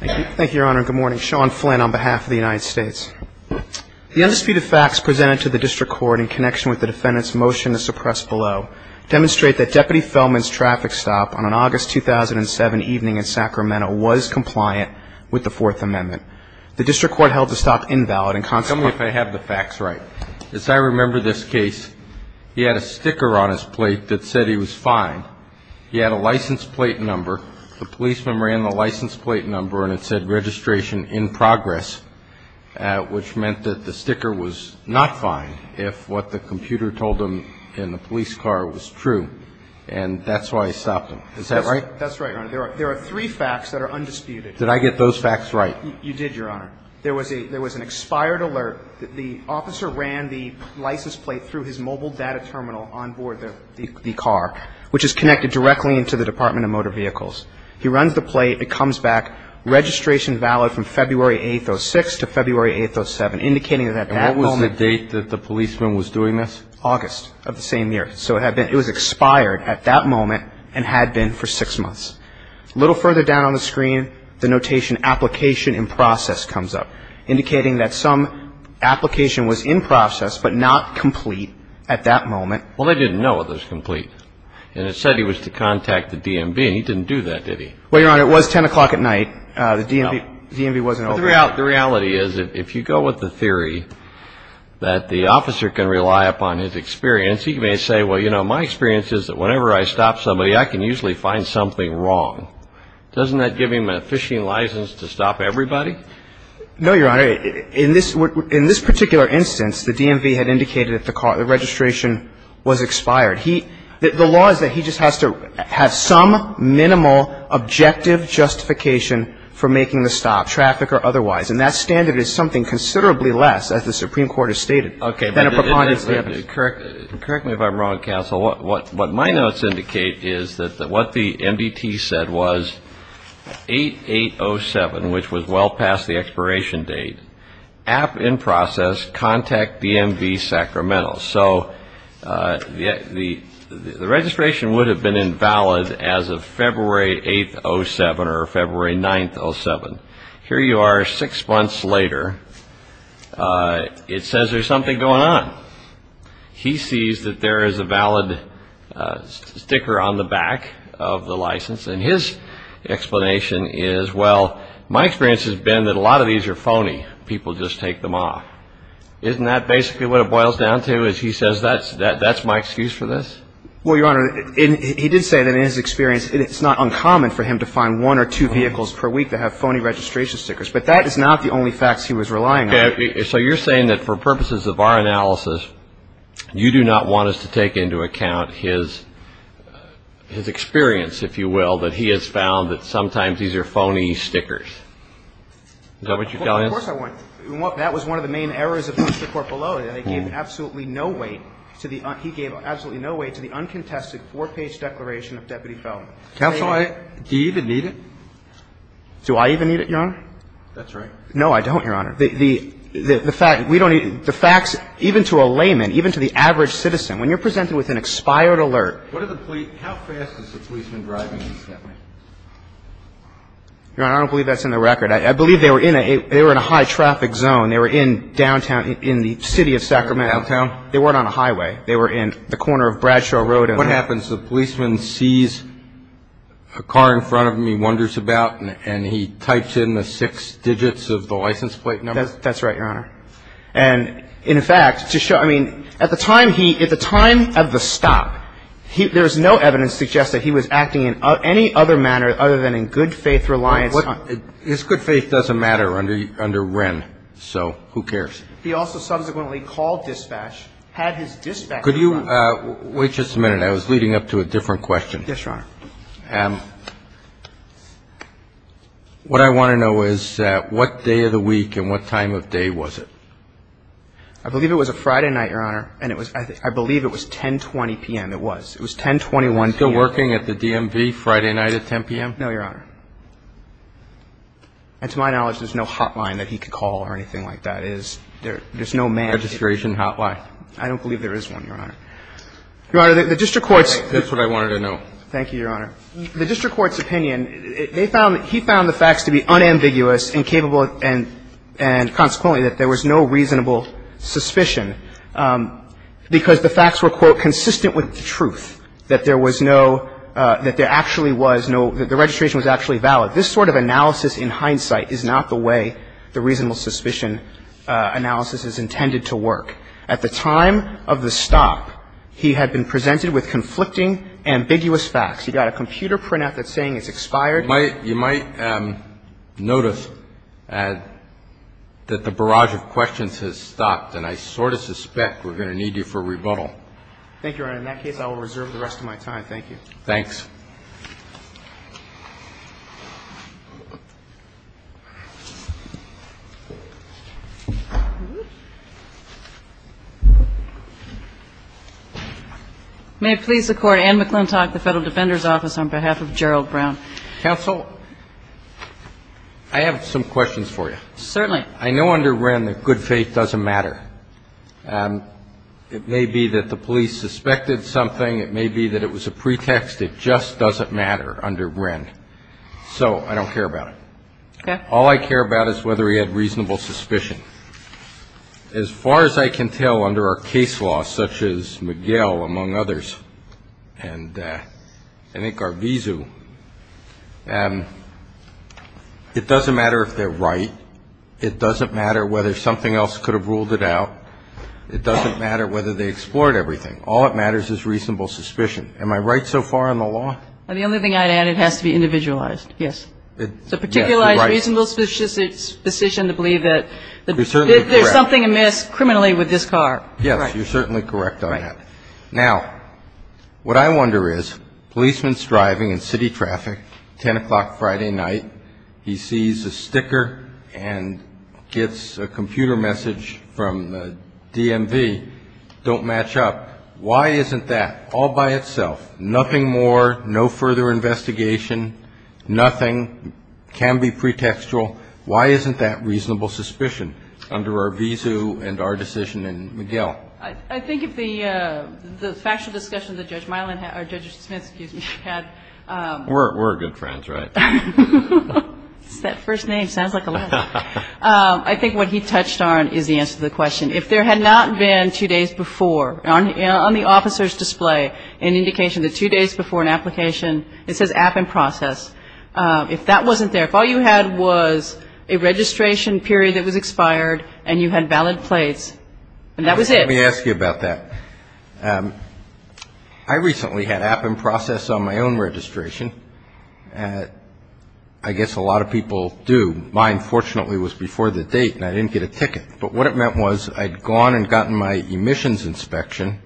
Thank you. Thank you, Your Honor. Good morning. Sean Flynn on behalf of the United States. The undisputed facts presented to the District Court in connection with the defendant's motion to suppress below demonstrate that Deputy Fellman's traffic stop on an August 2007 evening in Sacramento was compliant with the Fourth Amendment. The District Court held the stop invalid and consequently- Tell me if I have the facts right. As I remember this case, he had a sticker on his plate that said he was fine. He had a license plate number. The policeman ran the license plate number, and it said registration in progress, which meant that the sticker was not fine if what the computer told him in the police car was true. And that's why he stopped him. Is that right? That's right, Your Honor. There are three facts that are undisputed. Did I get those facts right? You did, Your Honor. There was an expired alert. The officer ran the license plate through his mobile data terminal on board the car, which is connected directly into the Department of Motor Vehicles. He runs the plate. It comes back registration valid from February 8th, 06 to February 8th, 07, indicating that at that moment- And what was the date that the policeman was doing this? August of the same year. So it was expired at that moment and had been for six months. A little further down on the screen, the notation application in process comes up, indicating that some application was in process but not complete at that moment. Well, they didn't know it was complete. And it said he was to contact the DMV. He didn't do that, did he? Well, Your Honor, it was 10 o'clock at night. The DMV wasn't open. The reality is if you go with the theory that the officer can rely upon his experience, he may say, well, you know, my experience is that whenever I stop somebody, I can usually find something wrong. Doesn't that give him a phishing license to stop everybody? No, Your Honor. In this particular instance, the DMV had indicated that the registration was expired. The law is that he just has to have some minimal objective justification for making the stop, traffic or otherwise. And that standard is something considerably less, as the Supreme Court has stated, than a preponderance standard. Okay. But correct me if I'm wrong, counsel. What my notes indicate is that what the MDT said was 8807, which was well past the expiration date, app in process, contact DMV Sacramento. So the registration would have been invalid as of February 8th, 07, or February 9th, 07. Here you are six months later. It says there's something going on. He sees that there is a valid sticker on the back of the license. And his explanation is, well, my experience has been that a lot of these are phony. People just take them off. Isn't that basically what it boils down to, is he says that's my excuse for this? Well, Your Honor, he did say that in his experience, it's not uncommon for him to find one or two vehicles per week that have phony registration stickers. But that is not the only facts he was relying on. So you're saying that for purposes of our analysis, you do not want us to take into account his experience, if you will, that he has found that sometimes these are phony stickers. Is that what you're telling us? Of course I want. That was one of the main errors of the court below. They gave absolutely no weight to the, he gave absolutely no weight to the uncontested four-page declaration of deputy felon. Counsel, do you even need it? Do I even need it, Your Honor? That's right. No, I don't, Your Honor. The fact, we don't even, the facts, even to a layman, even to the average citizen, when you're presented with an expired alert. What are the, how fast is the policeman driving these that way? Your Honor, I don't believe that's in the record. I believe they were in a high-traffic zone. They were in downtown, in the city of Sacramento. Downtown? They weren't on a highway. They were in the corner of Bradshaw Road. What happens? The policeman sees a car in front of him, he wonders about, and he types in the six digits of the license plate number? That's right, Your Honor. And in fact, to show, I mean, at the time he, at the time of the stop, he, there was no evidence to suggest that he was acting in any other manner other than in good faith reliance on. His good faith doesn't matter under Wren, so who cares? He also subsequently called dispatch, had his dispatcher. Could you wait just a minute? I was leading up to a different question. Yes, Your Honor. What I want to know is what day of the week and what time of day was it? I believe it was a Friday night, Your Honor, and I believe it was 10.20 p.m. It was. It was 10.21 p.m. Still working at the DMV Friday night at 10 p.m.? No, Your Honor. And to my knowledge, there's no hotline that he could call or anything like that. There's no man. Registration hotline. I don't believe there is one, Your Honor. Your Honor, the district court's. That's what I wanted to know. Thank you, Your Honor. The district court's opinion, they found, he found the facts to be unambiguous and capable and consequently that there was no reasonable suspicion because the facts were, quote, consistent with the truth, that there was no, that there actually was no, that the registration was actually valid. This sort of analysis in hindsight is not the way the reasonable suspicion analysis is intended to work. At the time of the stop, he had been presented with conflicting, ambiguous facts. He got a computer printout that's saying it's expired. You might notice that the barrage of questions has stopped, and I sort of suspect we're going to need you for a rebuttal. Thank you, Your Honor. In that case, I will reserve the rest of my time. Thank you. Thanks. May it please the Court, Anne McClintock, the Federal Defender's Office, on behalf of Gerald Brown. Counsel, I have some questions for you. Certainly. I know under Wren that good faith doesn't matter. It may be that the police suspected something. It may be that it was a pretext. It just doesn't matter under Wren, so I don't care about it. All I care about is whether he had reasonable suspicion. As far as I can tell under our case law, such as Miguel, among others, and I think our vizu, it doesn't matter if they're right, it doesn't matter whether something else could have ruled it out, it doesn't matter whether they explored everything. All that matters is reasonable suspicion. Am I right so far in the law? The only thing I'd add, it has to be individualized. Yes. It's a particularized reasonable suspicion to believe that there's something amiss criminally with this car. Yes, you're certainly correct on that. Now, what I wonder is, policeman's driving in city traffic, 10 o'clock Friday night, he sees a sticker and gets a computer message from the DMV, don't match up. Why isn't that all by itself? Nothing more, no further investigation, nothing can be pretextual. Why isn't that reasonable suspicion under our vizu and our decision in Miguel? I think if the factual discussion that Judge Smits had... We're good friends, right? That first name sounds like a lie. I think what he touched on is the answer to the question. If there had not been two days before, on the officer's display, an indication that two days before an application, it says app and process. If that wasn't there, if all you had was a registration period that was expired and you had valid plates, and that was it. Let me ask you about that. I recently had app and process on my own registration. I guess a lot of people do. Mine, fortunately, was before the date and I didn't get a ticket. But what it meant was I'd gone and gotten my emissions inspection,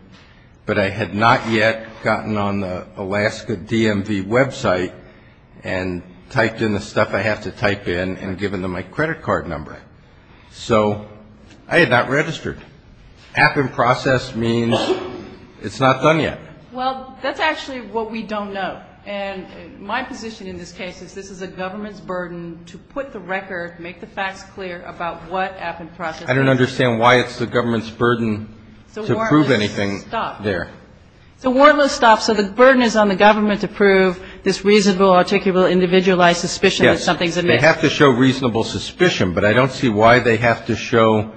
but I had not yet gotten on the Alaska DMV website and typed in the stuff I have to type in and given them my credit card number. So I had not registered. App and process means it's not done yet. Well, that's actually what we don't know. And my position in this case is this is a government's burden to put the record, make the facts clear about what app and process is. I don't understand why it's the government's burden to prove anything there. So warrantless stuff. So the burden is on the government to prove this reasonable, articulable, individualized suspicion that something's amiss. They have to show reasonable suspicion. But I don't see why they have to show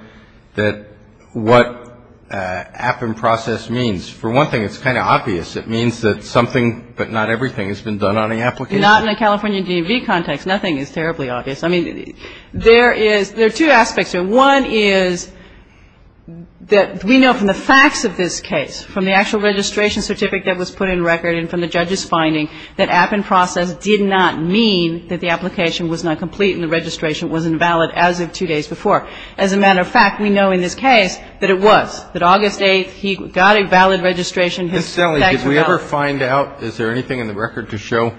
that what app and process means. For one thing, it's kind of obvious. It means that something, but not everything, has been done on the application. Not in a California DMV context. Nothing is terribly obvious. I mean, there is there are two aspects here. One is that we know from the facts of this case, from the actual registration certificate that was put in record and from the judge's finding, that app and process did not mean that the application was not complete and the registration was invalid as of two days before. As a matter of fact, we know in this case that it was. That August 8th, he got a valid registration. His facts were valid. Mr. Stelle, did we ever find out, is there anything in the record to show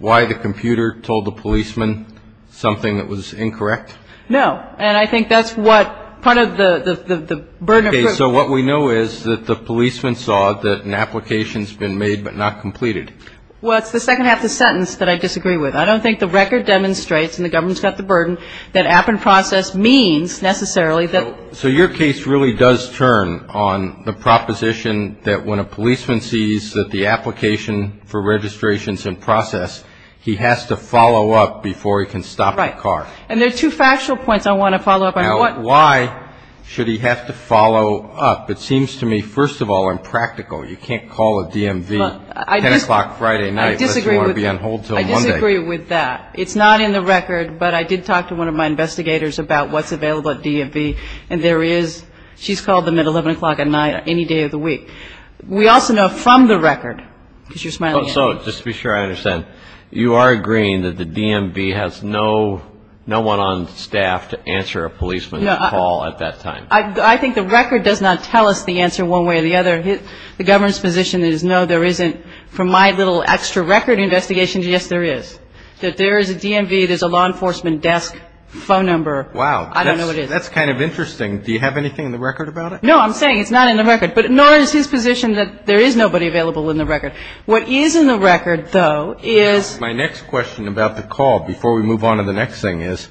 why the computer told the policeman something that was incorrect? No. And I think that's what part of the burden of proof. Okay. So what we know is that the policeman saw that an application's been made but not completed. Well, it's the second half of the sentence that I disagree with. I don't think the record demonstrates and the government's got the burden that app and process means necessarily that. So your case really does turn on the proposition that when a policeman sees that the application for registration's in process, he has to follow up before he can stop the car. Right. And there are two factual points I want to follow up on. Why should he have to follow up? It seems to me, first of all, impractical. You can't call a DMV 10 o'clock Friday night unless you want to be on hold until Monday. I agree with that. It's not in the record, but I did talk to one of my investigators about what's available at DMV and there is, she's called them at 11 o'clock at night any day of the week. We also know from the record, because you're smiling at me. So just to be sure I understand, you are agreeing that the DMV has no one on staff to answer a policeman's call at that time? I think the record does not tell us the answer one way or the other. The government's position is no, there isn't. From my little extra record investigation, yes, there is. That there is a DMV, there's a law enforcement desk, phone number. Wow. I don't know what it is. That's kind of interesting. Do you have anything in the record about it? No, I'm saying it's not in the record. But nor is his position that there is nobody available in the record. What is in the record, though, is. My next question about the call before we move on to the next thing is,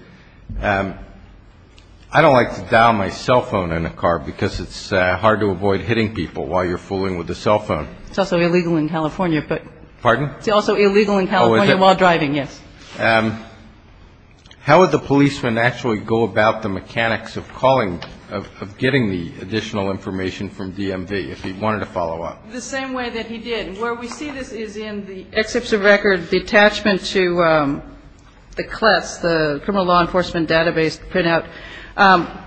I don't like to dial my cell phone in a car because it's hard to avoid hitting people while you're fooling with the cell phone. It's also illegal in California, but. Pardon? It's also illegal in California while driving, yes. How would the policeman actually go about the mechanics of calling, of getting the additional information from DMV if he wanted to follow up? The same way that he did. Where we see this is in the exception record, the attachment to the CLES, the Criminal Law Enforcement Database printout.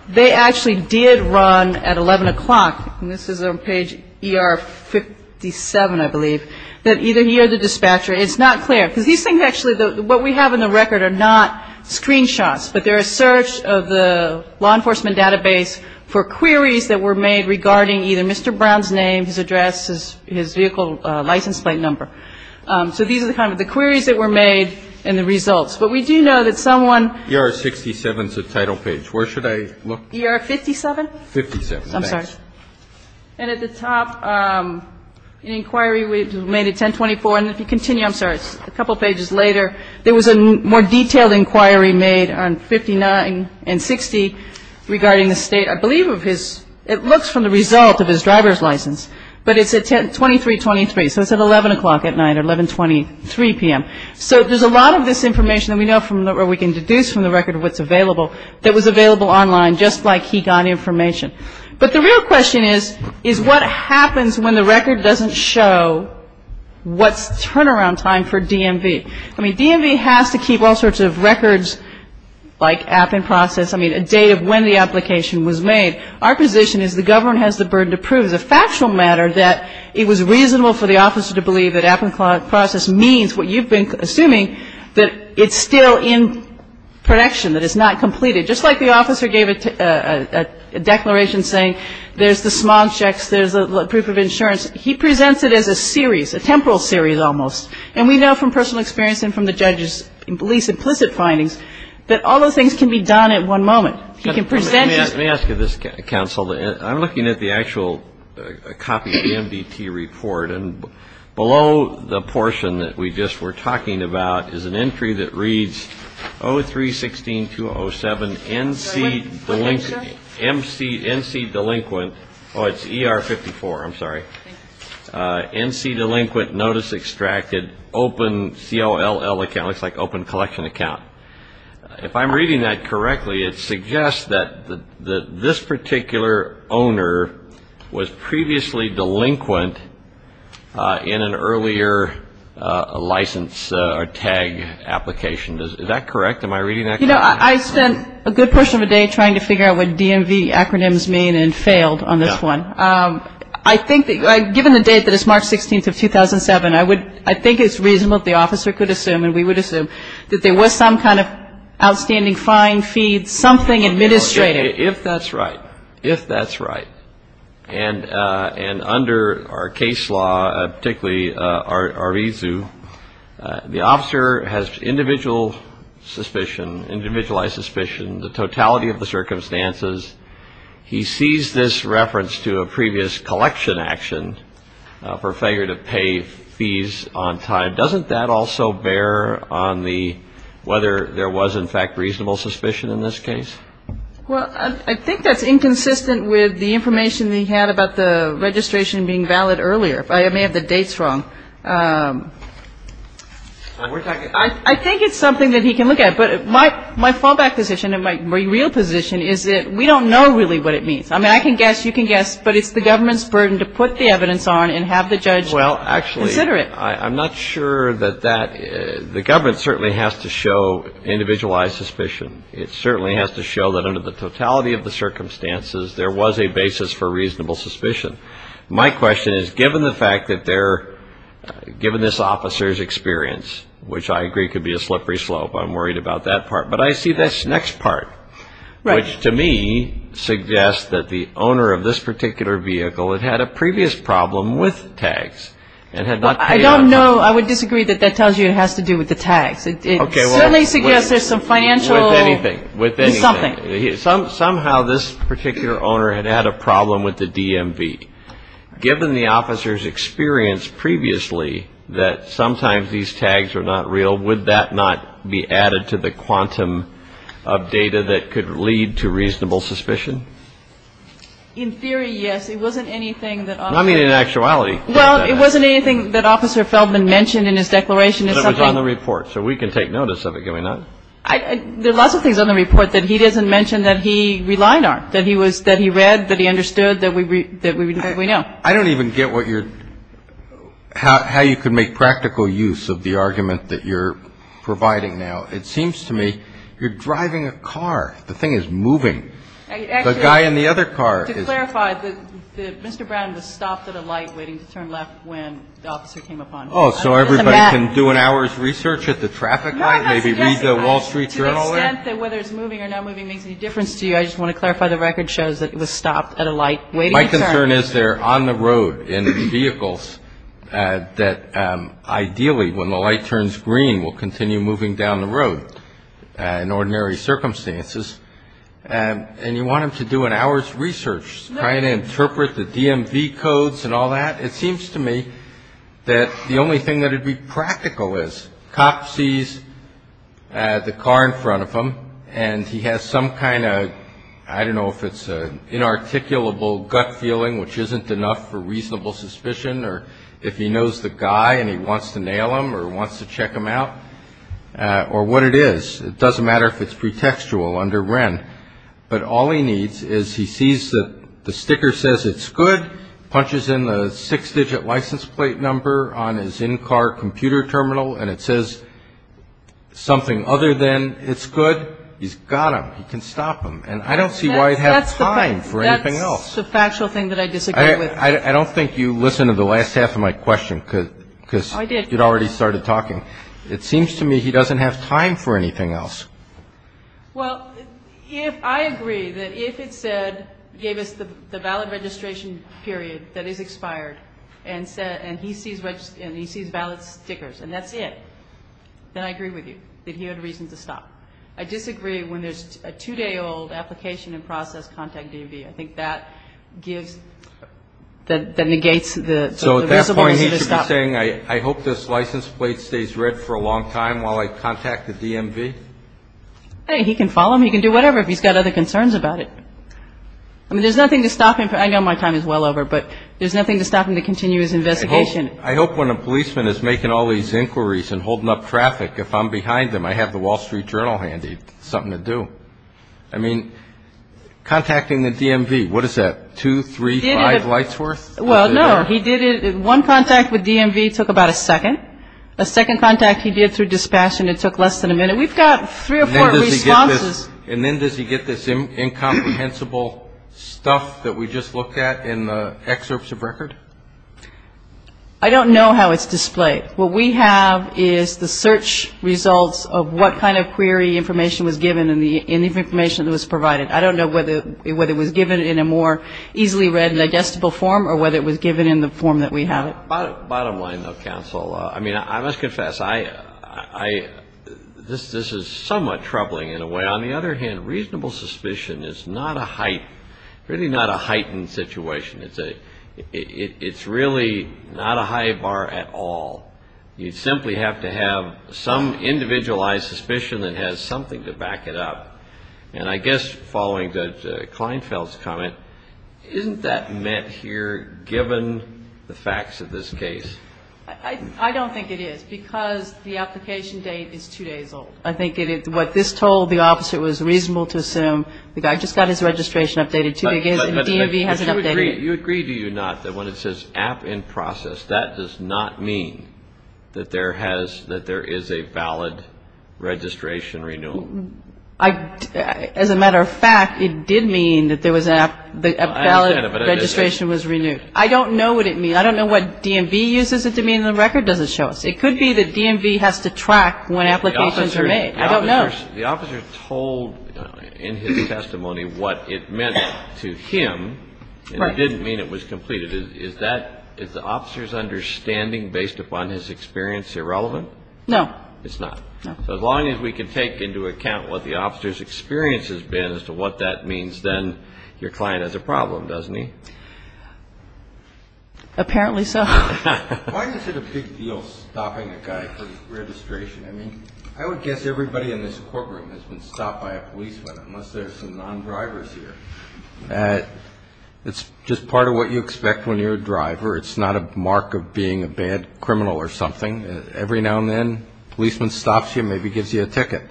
They actually did run at 11 o'clock, and this is on page ER 57, I believe, that either he or the dispatcher. It's not clear because these things actually what we have in the record are not screenshots, but they're a search of the law enforcement database for queries that were made regarding either Mr. Brown's name, his address, his vehicle license plate number. So these are the kind of the queries that were made and the results. But we do know that someone. ER 67 is the title page. Where should I look? ER 57? 57. I'm sorry. And at the top, an inquiry made at 1024, and if you continue, I'm sorry, it's a couple pages later. There was a more detailed inquiry made on 59 and 60 regarding the state, I believe, of his. It looks from the result of his driver's license, but it's at 2323, so it's at 11 o'clock at night or 1123 p.m. So there's a lot of this information that we know from or we can deduce from the record of what's available that was available online just like he got information. But the real question is, is what happens when the record doesn't show what's turnaround time for DMV? I mean, DMV has to keep all sorts of records like app and process, I mean, a date of when the application was made. Our position is the government has the burden to prove as a factual matter that it was reasonable for the officer to believe that app and process means what you've been assuming, that it's still in production, that it's not completed. Just like the officer gave a declaration saying there's the smog checks, there's the proof of insurance. He presents it as a series, a temporal series almost. And we know from personal experience and from the judge's least implicit findings that all those things can be done at one moment. He can present it. Let me ask you this, counsel. I'm looking at the actual copy of the MDT report. And below the portion that we just were talking about is an entry that reads 03-16-207 NC delinquent notice extracted open COLL account. It looks like open collection account. If I'm reading that correctly, it suggests that this particular owner was previously delinquent in an earlier license or tag application. Is that correct? Am I reading that correctly? You know, I spent a good portion of a day trying to figure out what DMV acronyms mean and failed on this one. I think that given the date that it's March 16th of 2007, I think it's reasonable that the officer could assume and we would assume that there was some kind of outstanding fine, fee, something administrative. If that's right, if that's right. And under our case law, particularly our ISU, the officer has individual suspicion, individualized suspicion, the totality of the circumstances. He sees this reference to a previous collection action for failure to pay fees on time. Doesn't that also bear on the whether there was, in fact, reasonable suspicion in this case? Well, I think that's inconsistent with the information that he had about the registration being valid earlier. I may have the dates wrong. I think it's something that he can look at. But my fallback position and my real position is that we don't know really what it means. I mean, I can guess, you can guess, but it's the government's burden to put the evidence on and have the judge consider it. Well, actually, I'm not sure that that the government certainly has to show individualized suspicion. It certainly has to show that under the totality of the circumstances, there was a basis for reasonable suspicion. My question is, given the fact that they're given this officer's experience, which I agree could be a slippery slope, I'm worried about that part. But I see this next part, which to me suggests that the owner of this particular vehicle had had a previous problem with tags and had not paid on time. I don't know. I would disagree that that tells you it has to do with the tags. It certainly suggests there's some financial something. Somehow this particular owner had had a problem with the DMV. Given the officer's experience previously that sometimes these tags are not real, would that not be added to the quantum of data that could lead to reasonable suspicion? In theory, yes. It wasn't anything that. I mean, in actuality. Well, it wasn't anything that Officer Feldman mentioned in his declaration. It was on the report, so we can take notice of it, can we not? There are lots of things on the report that he doesn't mention that he relied on, that he read, that he understood, that we know. I don't even get how you could make practical use of the argument that you're providing now. It seems to me you're driving a car. The thing is moving. The guy in the other car is. To clarify, Mr. Brown was stopped at a light waiting to turn left when the officer came upon him. So everybody can do an hour's research at the traffic light, maybe read the Wall Street Journal. To the extent that whether it's moving or not moving makes any difference to you. I just want to clarify the record shows that it was stopped at a light waiting. My concern is they're on the road in vehicles that ideally when the light turns green will continue moving down the road in ordinary circumstances. And you want them to do an hour's research, try to interpret the DMV codes and all that. It seems to me that the only thing that would be practical is cop sees the car in front of him. And he has some kind of I don't know if it's an inarticulable gut feeling, which isn't enough for reasonable suspicion, or if he knows the guy and he wants to nail him or wants to check him out or what it is. It doesn't matter if it's pretextual under Wren. But all he needs is he sees that the sticker says it's good, punches in the six digit license plate number on his in-car computer terminal and it says something other than it's good. He's got him. He can stop him. And I don't see why he'd have time for anything else. That's the factual thing that I disagree with. I don't think you listened to the last half of my question because you'd already started talking. It seems to me he doesn't have time for anything else. Well, if I agree that if it said gave us the valid registration period that is expired and he sees valid stickers and that's it, then I agree with you that he had a reason to stop. I disagree when there's a two-day-old application and process contact DMV. I think that gives that negates the reasonable reason to stop. I'm not saying I hope this license plate stays red for a long time while I contact the DMV. He can follow him. He can do whatever if he's got other concerns about it. I mean, there's nothing to stop him. I know my time is well over, but there's nothing to stop him to continue his investigation. I hope when a policeman is making all these inquiries and holding up traffic, if I'm behind them, I have the Wall Street Journal handy, something to do. I mean, contacting the DMV, what is that, two, three, five lights worth? Well, no, he did it. One contact with DMV took about a second. A second contact he did through dispatch and it took less than a minute. We've got three or four responses. And then does he get this incomprehensible stuff that we just looked at in the excerpts of record? I don't know how it's displayed. What we have is the search results of what kind of query information was given and the information that was provided. I don't know whether it was given in a more easily read and digestible form or whether it was given in the form that we have it. Bottom line, though, counsel, I mean, I must confess, this is somewhat troubling in a way. On the other hand, reasonable suspicion is not a heightened situation. It's really not a high bar at all. You simply have to have some individualized suspicion that has something to back it up. And I guess following Judge Kleinfeld's comment, isn't that meant here given the facts of this case? I don't think it is because the application date is two days old. I think what this told the officer it was reasonable to assume the guy just got his registration updated and DMV hasn't updated it. You agree, do you not, that when it says app in process, that does not mean that there is a valid registration renewal? As a matter of fact, it did mean that a valid registration was renewed. I don't know what it means. I don't know what DMV uses it to mean. The record doesn't show us. It could be that DMV has to track when applications are made. I don't know. The officer told in his testimony what it meant to him, and it didn't mean it was completed. Is the officer's understanding based upon his experience irrelevant? No. It's not. So as long as we can take into account what the officer's experience has been as to what that means, then your client has a problem, doesn't he? Apparently so. Why is it a big deal stopping a guy for his registration? I mean, I would guess everybody in this courtroom has been stopped by a policeman, unless there are some non-drivers here. It's just part of what you expect when you're a driver. It's not a mark of being a bad criminal or something. Every now and then, a policeman stops you, maybe gives you a ticket.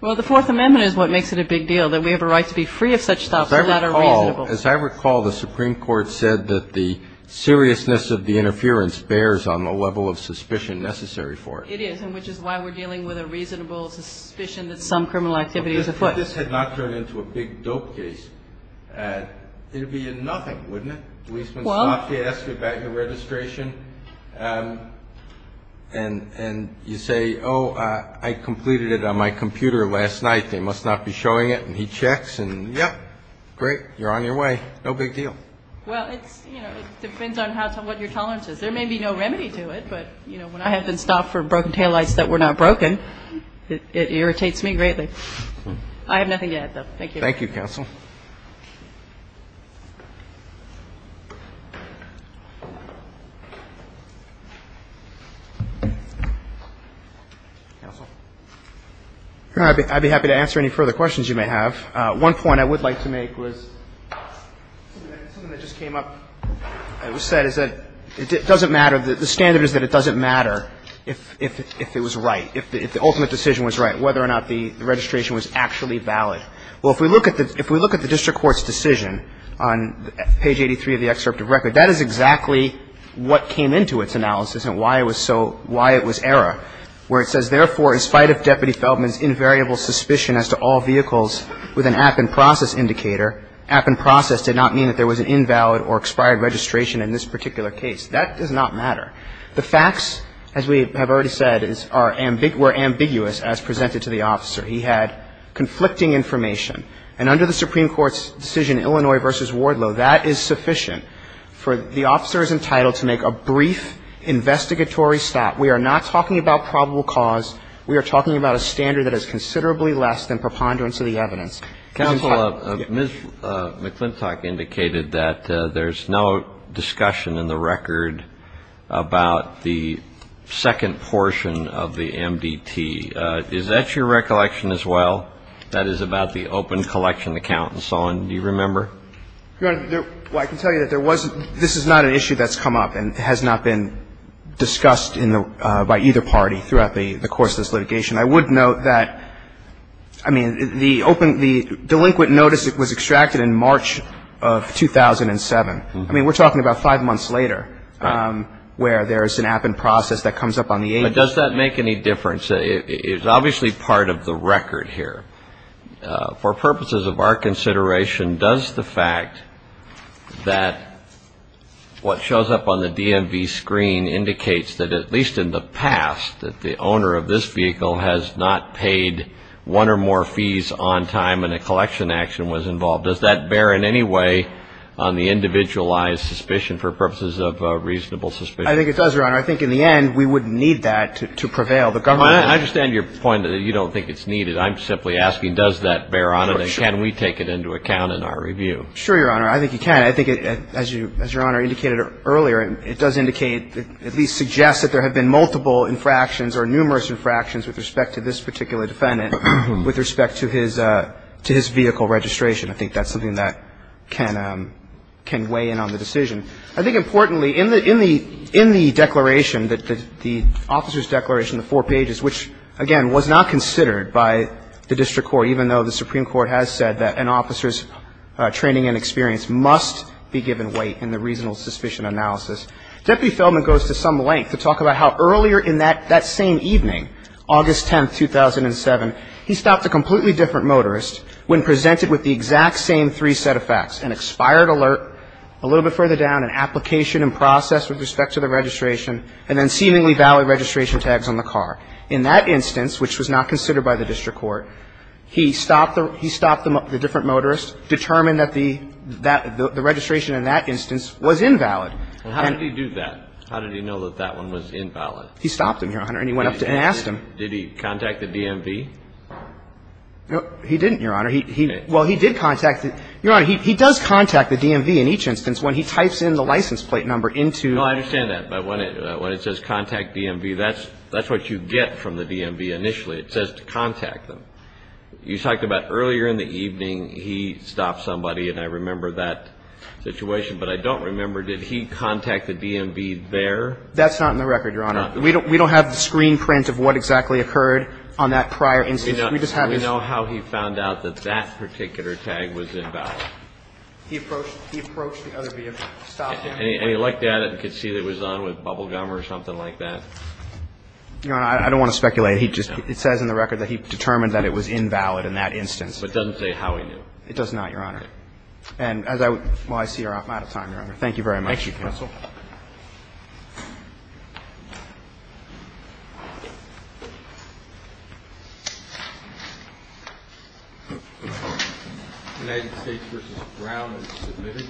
Well, the Fourth Amendment is what makes it a big deal, that we have a right to be free of such stops. As I recall, the Supreme Court said that the seriousness of the interference bears on the level of suspicion necessary for it. It is, and which is why we're dealing with a reasonable suspicion that some criminal activity is afoot. If this had not turned into a big dope case, it would be a nothing, wouldn't it? A policeman stops you, asks you about your registration, and you say, oh, I completed it on my computer last night. They must not be showing it. And he checks and, yep, great, you're on your way. No big deal. Well, it depends on what your tolerance is. There may be no remedy to it, but when I have been stopped for broken taillights that were not broken, it irritates me greatly. I have nothing to add, though. Thank you. Thank you, counsel. Counsel. I'd be happy to answer any further questions you may have. One point I would like to make was something that just came up that was said, is that it doesn't matter. The standard is that it doesn't matter if it was right, if the ultimate decision was right, whether or not the registration was actually valid. Well, if we look at the district court's decision on page 83 of the excerpt of record, that is exactly what came into its analysis and why it was so, why it was error, where it says, therefore, in spite of Deputy Feldman's invariable suspicion as to all vehicles with an app and process indicator, app and process did not mean that there was an invalid or expired registration in this particular case. That does not matter. The facts, as we have already said, were ambiguous as presented to the officer. He had conflicting information. And under the Supreme Court's decision, Illinois v. Wardlow, that is sufficient for the officer's entitlement to make a brief investigatory stat. We are not talking about probable cause. We are talking about a standard that is considerably less than preponderance of the evidence. Counsel, Ms. McClintock indicated that there's no discussion in the record about the second portion of the MDT. Is that your recollection as well, that is about the open collection account and so on? Do you remember? Your Honor, there – well, I can tell you that there wasn't – this is not an issue that's come up and has not been discussed in the – by either party throughout the course of this litigation. I would note that, I mean, the open – the delinquent notice was extracted in March of 2007. I mean, we're talking about five months later where there's an app and process that comes up on the agenda. But does that make any difference? It's obviously part of the record here. For purposes of our consideration, does the fact that what shows up on the DMV screen indicates that at least in the past that the owner of this vehicle has not paid one or more fees on time and a collection action was involved? Does that bear in any way on the individualized suspicion for purposes of reasonable suspicion? I think it does, Your Honor. I think in the end we would need that to prevail. The government – I understand your point that you don't think it's needed. I'm simply asking does that bear on it and can we take it into account in our review? Sure, Your Honor. I think you can. I mean, I think as Your Honor indicated earlier, it does indicate – at least suggests that there have been multiple infractions or numerous infractions with respect to this particular defendant with respect to his vehicle registration. I think that's something that can weigh in on the decision. I think importantly, in the declaration, the officer's declaration, the four pages, which, again, was not considered by the district court, even though the Supreme Court has said that an officer's training and experience must be given weight in the reasonable suspicion analysis, Deputy Feldman goes to some length to talk about how earlier in that same evening, August 10, 2007, he stopped a completely different motorist when presented with the exact same three set of facts, an expired alert a little bit further down, an application in process with respect to the registration, and then seemingly valid registration tags on the car. In that instance, which was not considered by the district court, he stopped the different motorist, determined that the registration in that instance was invalid. And how did he do that? How did he know that that one was invalid? He stopped him, Your Honor, and he went up and asked him. Did he contact the DMV? No, he didn't, Your Honor. Well, he did contact the – Your Honor, he does contact the DMV in each instance when he types in the license plate number into – No, I understand that. But when it says contact DMV, that's what you get from the DMV initially. It says to contact them. You talked about earlier in the evening he stopped somebody, and I remember that situation, but I don't remember, did he contact the DMV there? That's not in the record, Your Honor. We don't have the screen print of what exactly occurred on that prior instance. We just have his – We know how he found out that that particular tag was invalid. He approached the other vehicle, stopped him. And he looked at it and could see that it was on with bubble gum or something like that. Your Honor, I don't want to speculate. He just – it says in the record that he determined that it was invalid in that instance. But it doesn't say how he knew. It does not, Your Honor. And as I – well, I see we're out of time, Your Honor. Thank you very much. Thank you, counsel. United States v. Brown is submitted.